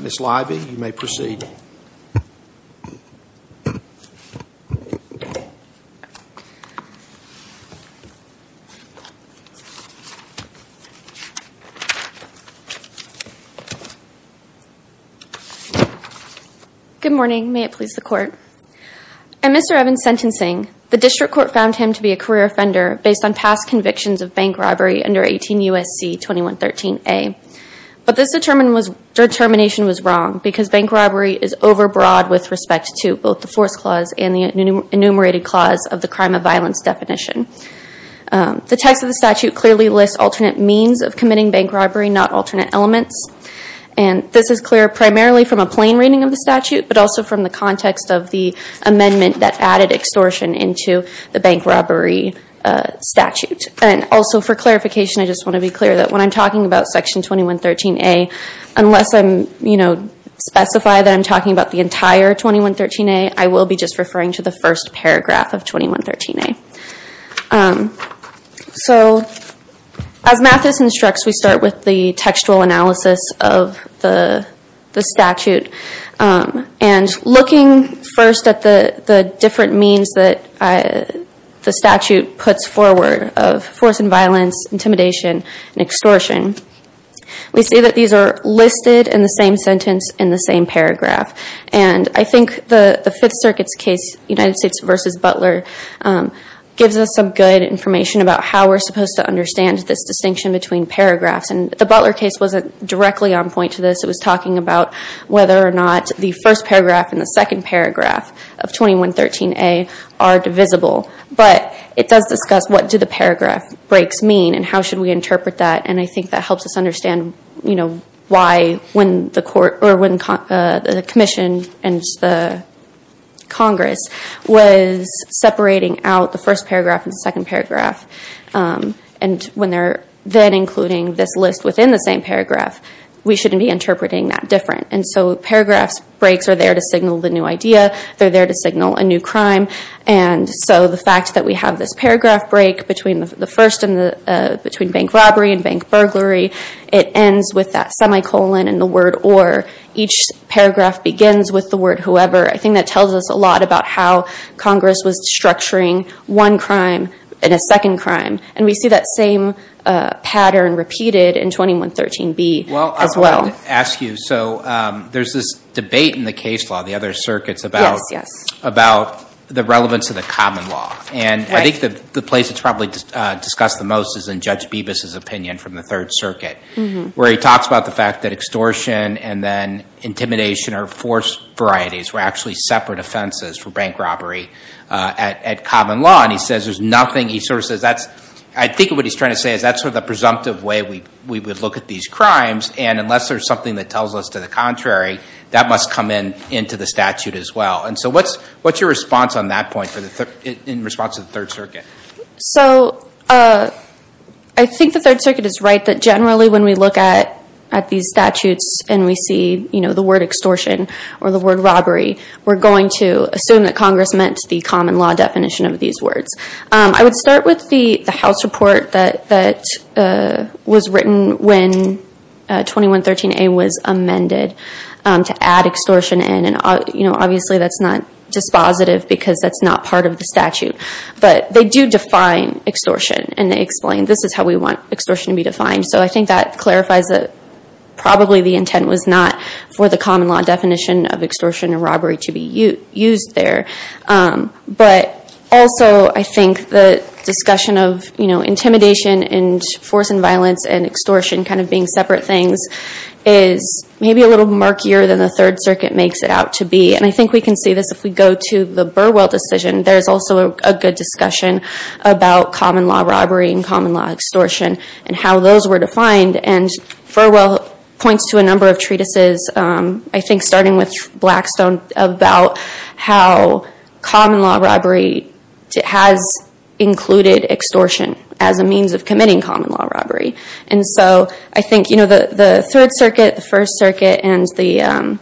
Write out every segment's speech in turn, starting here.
Ms. Leiby, you may proceed. Good morning. May it please the Court. In Mr. Evans' sentencing, the District Court found him to be a career offender based on past convictions of bank robbery under 18 U.S.C. 2113a. But this determination was wrong because bank robbery is overbroad with respect to both the force clause and the enumerated clause of the crime of violence definition. The text of the statute clearly lists alternate means of committing bank robbery, not alternate elements. And this is clear primarily from a plain reading of the statute, but also from the context of the amendment that added extortion into the bank robbery statute. And also for clarification, I just want to be clear that when I'm talking about section 2113a, unless I specify that I'm talking about the entire 2113a, I will be just referring to the first paragraph of 2113a. So as Mathis instructs, we start with the textual analysis of the statute. And looking first at the different means that the statute puts forward of force and violence, intimidation, and extortion, we see that these are listed in the same sentence in the same paragraph. And I think the Fifth Circuit's case, United States v. Butler, gives us some good information about how we're supposed to understand this distinction between paragraphs. And the Butler case wasn't directly on point to this. It was talking about whether or not the first paragraph and the second paragraph of 2113a are divisible. But it does discuss what do the paragraph breaks mean and how should we interpret that. And I think that helps us understand why when the commission and the Congress was separating out the first paragraph and the second paragraph. And when they're then including this list within the same paragraph, we shouldn't be interpreting that different. And so paragraphs breaks are there to signal the new idea. They're there to signal a new crime. And so the fact that we have this paragraph break between the first and the between bank robbery and bank burglary, it ends with that semicolon and the word or. Each paragraph begins with the word whoever. I think that tells us a lot about how Congress was structuring one crime in a second crime. And we see that same pattern repeated in 2113b as well. Well, I wanted to ask you. So there's this debate in the case law, the other circuits, about the relevance of the common law. And I think the place it's probably discussed the most is in Judge Bibas's opinion from the Third Circuit, where he talks about the fact that extortion and then intimidation are forced varieties. We're actually separate offenses for bank robbery at common law. He says there's nothing. I think what he's trying to say is that's the presumptive way we would look at these crimes. And unless there's something that tells us to the contrary, that must come in into the statute as well. And so what's your response on that point in response to the Third Circuit? So I think the Third Circuit is right that generally when we look at these statutes and we see the word extortion or the word robbery, we're going to assume that Congress meant the common law definition of these words. I would start with the House report that was written when 2113a was amended to add extortion in. And obviously, that's not dispositive because that's not part of the statute. But they do define extortion. And they explain this is how we want extortion to be defined. So I think that clarifies that probably the intent was not for the common law definition of extortion and robbery to be used there. But also, I think the discussion of intimidation and force and violence and extortion kind of being separate things is maybe a little murkier than the Third Circuit makes it out to be. And I think we can see this if we go to the Burwell decision. There's also a good discussion about common law robbery and common law extortion and how those were defined. And Burwell points to a number of treatises, I think starting with Blackstone, about how common law robbery has included extortion as a means of committing common law robbery. And so I think the Third Circuit, the First Circuit, and the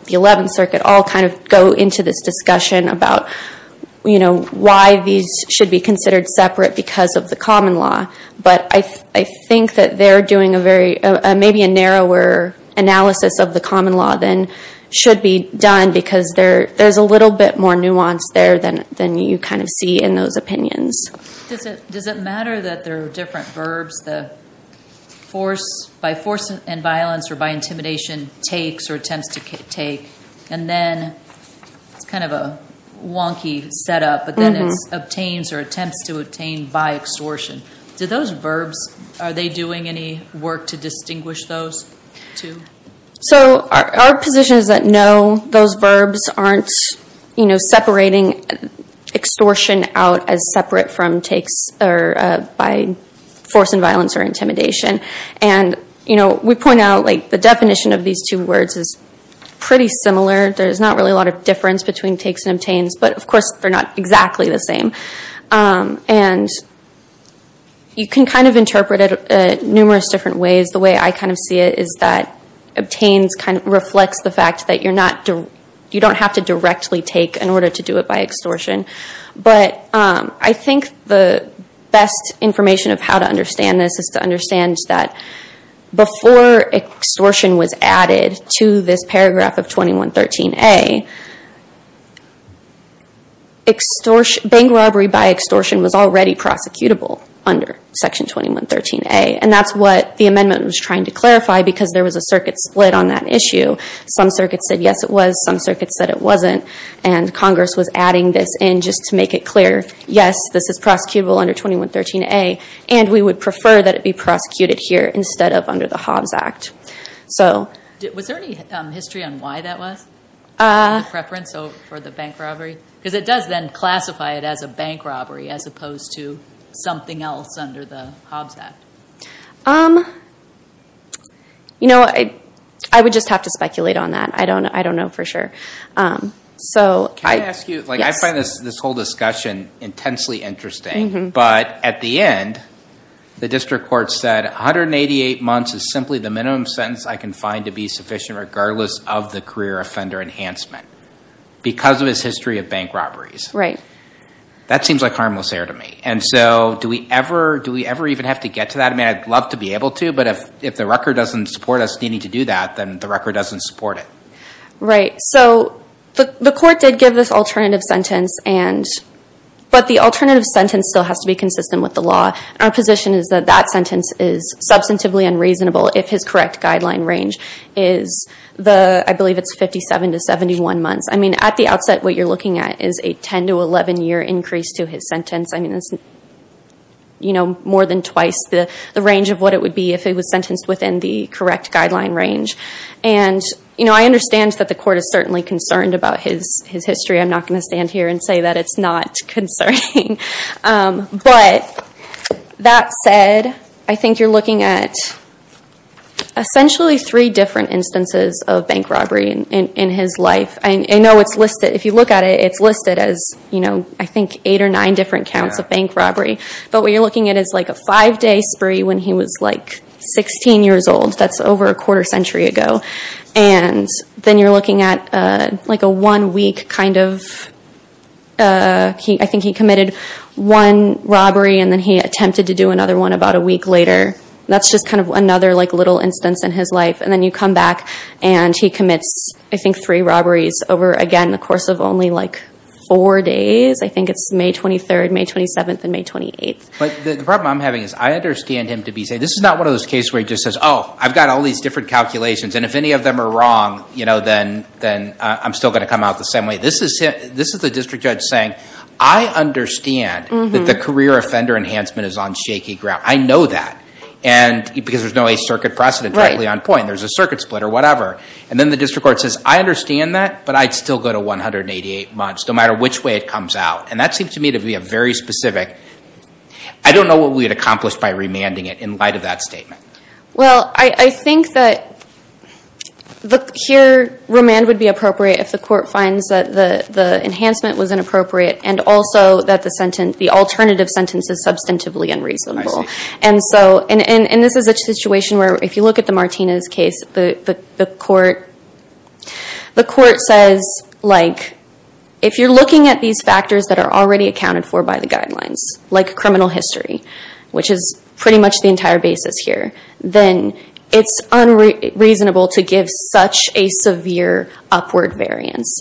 Eleventh Circuit all kind of go into this discussion about why these should be considered separate because of the common law. But I think that they're doing maybe a narrower analysis of the common law than should be done. Because there's a little bit more nuance there than you kind of see in those opinions. Does it matter that there are different verbs by force and violence or by intimidation takes or attempts to take? And then it's kind of a wonky setup. But then it's obtains or attempts to obtain by extortion. Do those verbs, are they doing any work to distinguish those two? So our position is that no, those verbs aren't, you know, separating extortion out as separate from takes or by force and violence or intimidation. And, you know, we point out like the definition of these two words is pretty similar. There's not really a lot of difference between takes and obtains. But, of course, they're not exactly the same. And you can kind of interpret it numerous different ways. The way I kind of see it is that obtains kind of reflects the fact that you're not, you don't have to directly take in order to do it by extortion. But I think the best information of how to understand this is to understand that before extortion was added to this paragraph of 2113A, bank robbery by extortion was already prosecutable under section 2113A. And that's what the amendment was trying to clarify because there was a circuit split on that issue. Some circuits said yes, it was. Some circuits said it wasn't. And Congress was adding this in just to make it clear, yes, this is prosecutable under 2113A. And we would prefer that it be prosecuted here instead of under the Hobbs Act. Was there any history on why that was? The preference for the bank robbery? Because it does then classify it as a bank robbery as opposed to something else under the Hobbs Act. You know, I would just have to speculate on that. I don't know for sure. Can I ask you, like I find this whole discussion intensely interesting. But at the end, the district court said 188 months is simply the minimum sentence I can find to be sufficient regardless of the career offender enhancement because of his history of bank robberies. Right. That seems like harmless error to me. And so do we ever even have to get to that? I mean, I'd love to be able to. But if the record doesn't support us needing to do that, then the record doesn't support it. Right. So the court did give this alternative sentence. But the sentence still has to be consistent with the law. Our position is that that sentence is substantively unreasonable if his correct guideline range is the, I believe it's 57 to 71 months. I mean, at the outset, what you're looking at is a 10 to 11 year increase to his sentence. I mean, it's, you know, more than twice the range of what it would be if it was sentenced within the correct guideline range. And, you know, I understand that the court is certainly concerned about his history. I'm not going to stand here and say that it's not concerning. But that said, I think you're looking at essentially three different instances of bank robbery in his life. I know it's listed, if you look at it, it's listed as, you know, I think eight or nine different counts of bank robbery. But what you're looking at is like a five day spree when he was like 16 years old. That's over a quarter century ago. And then you're looking at like a one week kind of, I think he committed one robbery and then he attempted to do another one about a week later. That's just kind of another like little instance in his life. And then you come back and he commits, I think, three robberies over, again, the course of only like four days. I think it's May 23rd, May 27th, and May 28th. But the problem I'm having is I understand him to be saying, this is not one of those cases where he just says, oh, I've got all these different calculations. And if any of them are wrong, you know, then I'm still going to come out the same way. This is the district judge saying, I understand that the career offender enhancement is on shaky ground. I know that. And because there's no eight circuit precedent directly on point, there's a circuit split or whatever. And then the district court says, I understand that, but I'd still go to 188 months, no matter which way it comes out. And that seems to me to be a very specific, I don't know what we had accomplished by remanding it in light of that statement. Well, I think that here, remand would be appropriate if the court finds that the enhancement was inappropriate and also that the sentence, the alternative sentence is substantively unreasonable. And so, and this is a situation where if you look at the Martinez case, the court says like, if you're looking at these factors that are already accounted for by the guidelines, like criminal history, which is pretty much the entire basis here, then it's unreasonable to give such a severe upward variance.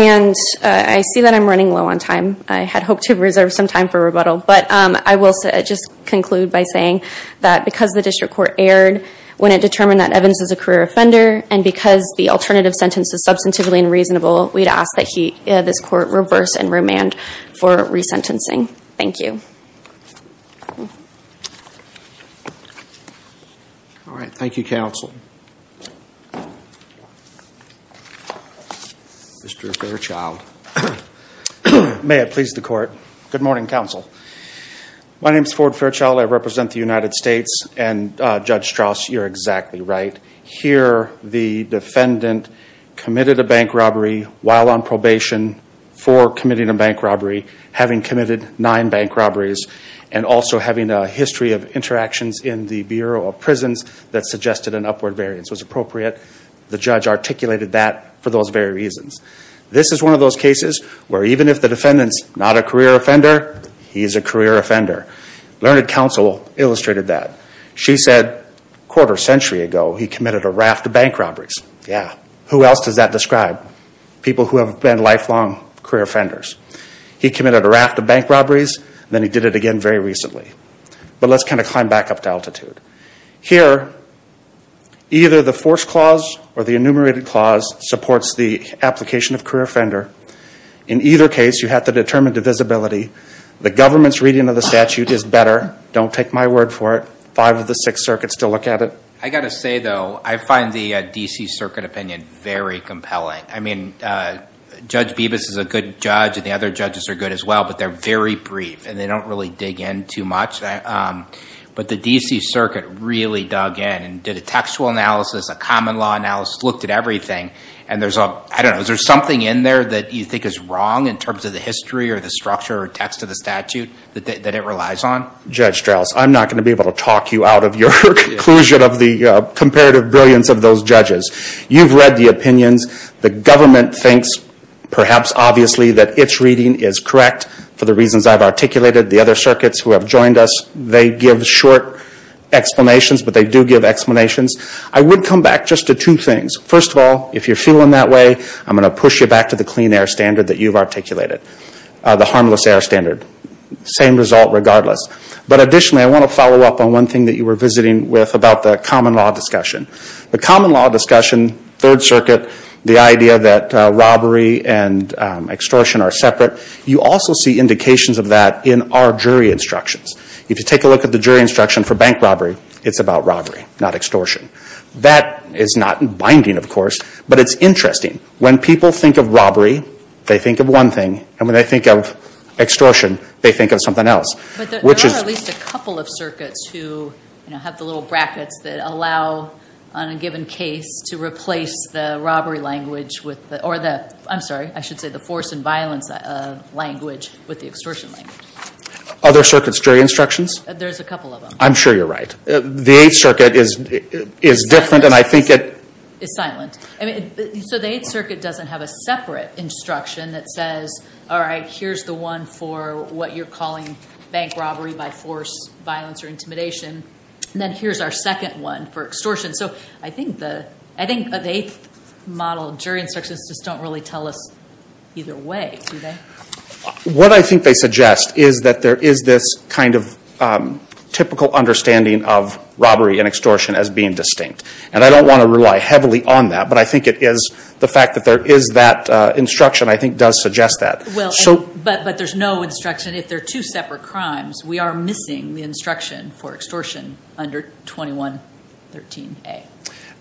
And I see that I'm running low on time. I had hoped to reserve some time for rebuttal, but I will just conclude by saying that because the district court erred when it determined that Evans is a career offender, and because the alternative sentence is substantively unreasonable, we'd ask that this court reverse and remand for resentencing. Thank you. All right. Thank you, counsel. Mr. Fairchild. May it please the court. Good morning, counsel. My name is Ford Fairchild. I represent the United while on probation for committing a bank robbery, having committed nine bank robberies, and also having a history of interactions in the Bureau of Prisons that suggested an upward variance was appropriate. The judge articulated that for those very reasons. This is one of those cases where even if the defendant's not a career offender, he's a career offender. Learned counsel illustrated that. She said quarter century ago, he committed a raft of bank robberies. Yeah. Who else does that describe? People who have been lifelong career offenders. He committed a raft of bank robberies, then he did it again very recently. But let's kind of climb back up to altitude. Here, either the force clause or the enumerated clause supports the application of career offender. In either case, you have to determine divisibility. The government's reading of the statute is better. Don't take my word for it. Five of the six circuits still look at it. I got to say, though, I find the D.C. Circuit opinion very compelling. I mean, Judge Bibas is a good judge, and the other judges are good as well, but they're very brief, and they don't really dig in too much. But the D.C. Circuit really dug in and did a textual analysis, a common law analysis, looked at everything. And there's a, I don't know, is there something in there that you think is wrong in terms of the history or the structure or text of the statute that it relies on? Judge Strauss, I'm not going to be able to talk you out of your conclusion of the comparative brilliance of those judges. You've read the opinions. The government thinks, perhaps obviously, that its reading is correct for the reasons I've articulated. The other circuits who have joined us, they give short explanations, but they do give explanations. I would come back just to two things. First of all, if you're feeling that way, I'm going to push you back to the clean air standard that you've articulated, the harmless air standard. Same result regardless. But one thing that you were visiting with about the common law discussion. The common law discussion, Third Circuit, the idea that robbery and extortion are separate, you also see indications of that in our jury instructions. If you take a look at the jury instruction for bank robbery, it's about robbery, not extortion. That is not binding, of course, but it's interesting. When people think of robbery, they think of one thing, and when they think of extortion, they think of something else. But there are at least a couple of circuits that have the little brackets that allow, on a given case, to replace the force and violence language with the extortion language. Other circuits' jury instructions? There's a couple of them. I'm sure you're right. The Eighth Circuit is different, and I think it- Is silent. The Eighth Circuit doesn't have a separate instruction that says, here's the one for what you're calling bank robbery by force, violence, or intimidation, and then here's our second one for extortion. I think the Eighth model jury instructions just don't really tell us either way, do they? What I think they suggest is that there is this kind of typical understanding of robbery and extortion as being distinct. And I don't want to rely heavily on that, but I think it is the fact that there is that instruction, I think does suggest that. But there's no instruction, if they're two separate crimes, we are missing the instruction for extortion under 2113A.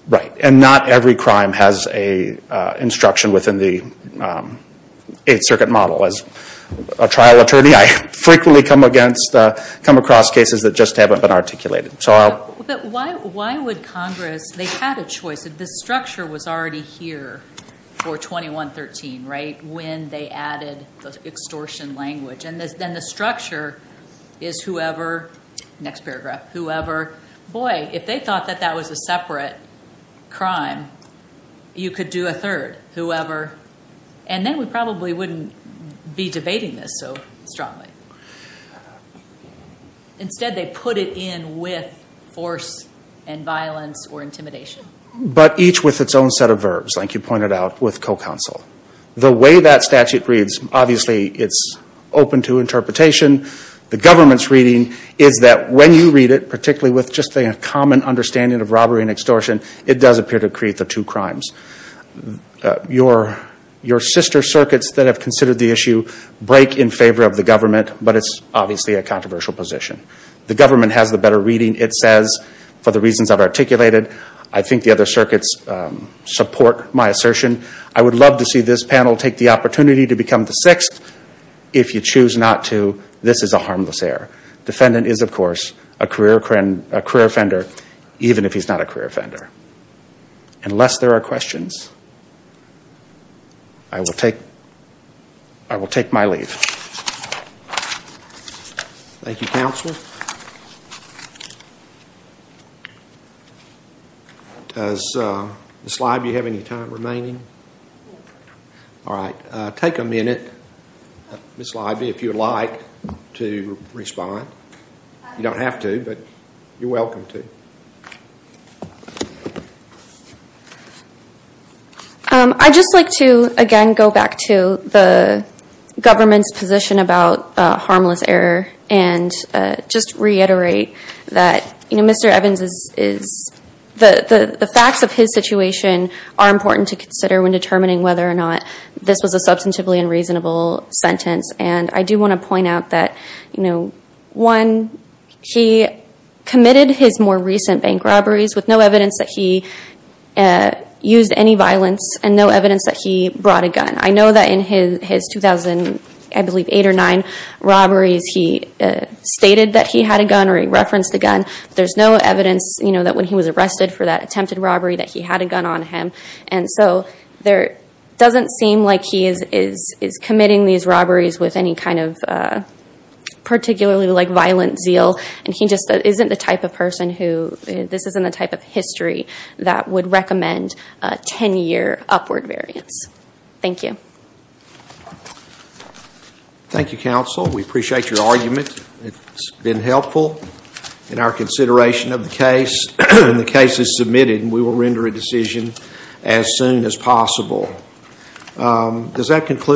Right. And not every crime has an instruction within the Eighth Circuit model. As a trial attorney, I frequently come across cases that just haven't been articulated. But why would Congress, they had a choice. The structure was already here for 2113, right, when they added the extortion language. And then the structure is whoever, next paragraph, whoever, boy, if they thought that that was a separate crime, you could do a third, whoever. And then we probably wouldn't be debating this so strongly. Instead, they put it in with force and violence or intimidation. But each with its own set of verbs, like you pointed out with co-counsel. The way that statute reads, obviously it's open to interpretation. The government's reading is that when you read it, particularly with just a common understanding of robbery and extortion, it does appear to create the two crimes. Your sister circuits that have considered the issue break in favor of the government, but it's obviously a controversial position. The government has the better reading, it says, for the reasons I've articulated. I think the other circuits support my assertion. I would love to see this panel take the opportunity to become the sixth. If you choose not to, this is a harmless error. Defendant is, of course, a career offender, even if he's not a career offender. Unless there are questions, I will take my leave. Thank you, Counselor. Does Ms. Leiby have any time remaining? All right. Take a minute, Ms. Leiby, if you'd like to respond. You don't have to, but you're welcome to. I'd just like to, again, go back to the government's position about harmless error and just reiterate that Mr. Evans, the facts of his situation are important to consider when determining whether or not this was a substantively unreasonable sentence. I do want to point out that one, he committed his more recent bank robberies with no evidence that he used any violence and no evidence that he brought a gun. I know that in his 2008 or 2009 robberies, he stated that he had a gun or he referenced a gun. There's no evidence that when he was arrested for that attempted robbery that he had a gun on him. So it doesn't seem like he is committing these robberies with any kind of particularly violent zeal and he just isn't the type of person who, this isn't the type of history that would recommend a 10-year upward variance. Thank you. Thank you, Counsel. We appreciate your argument. It's been helpful in our consideration of the case. The case is submitted and we will render a decision as soon as possible. Does that conclude?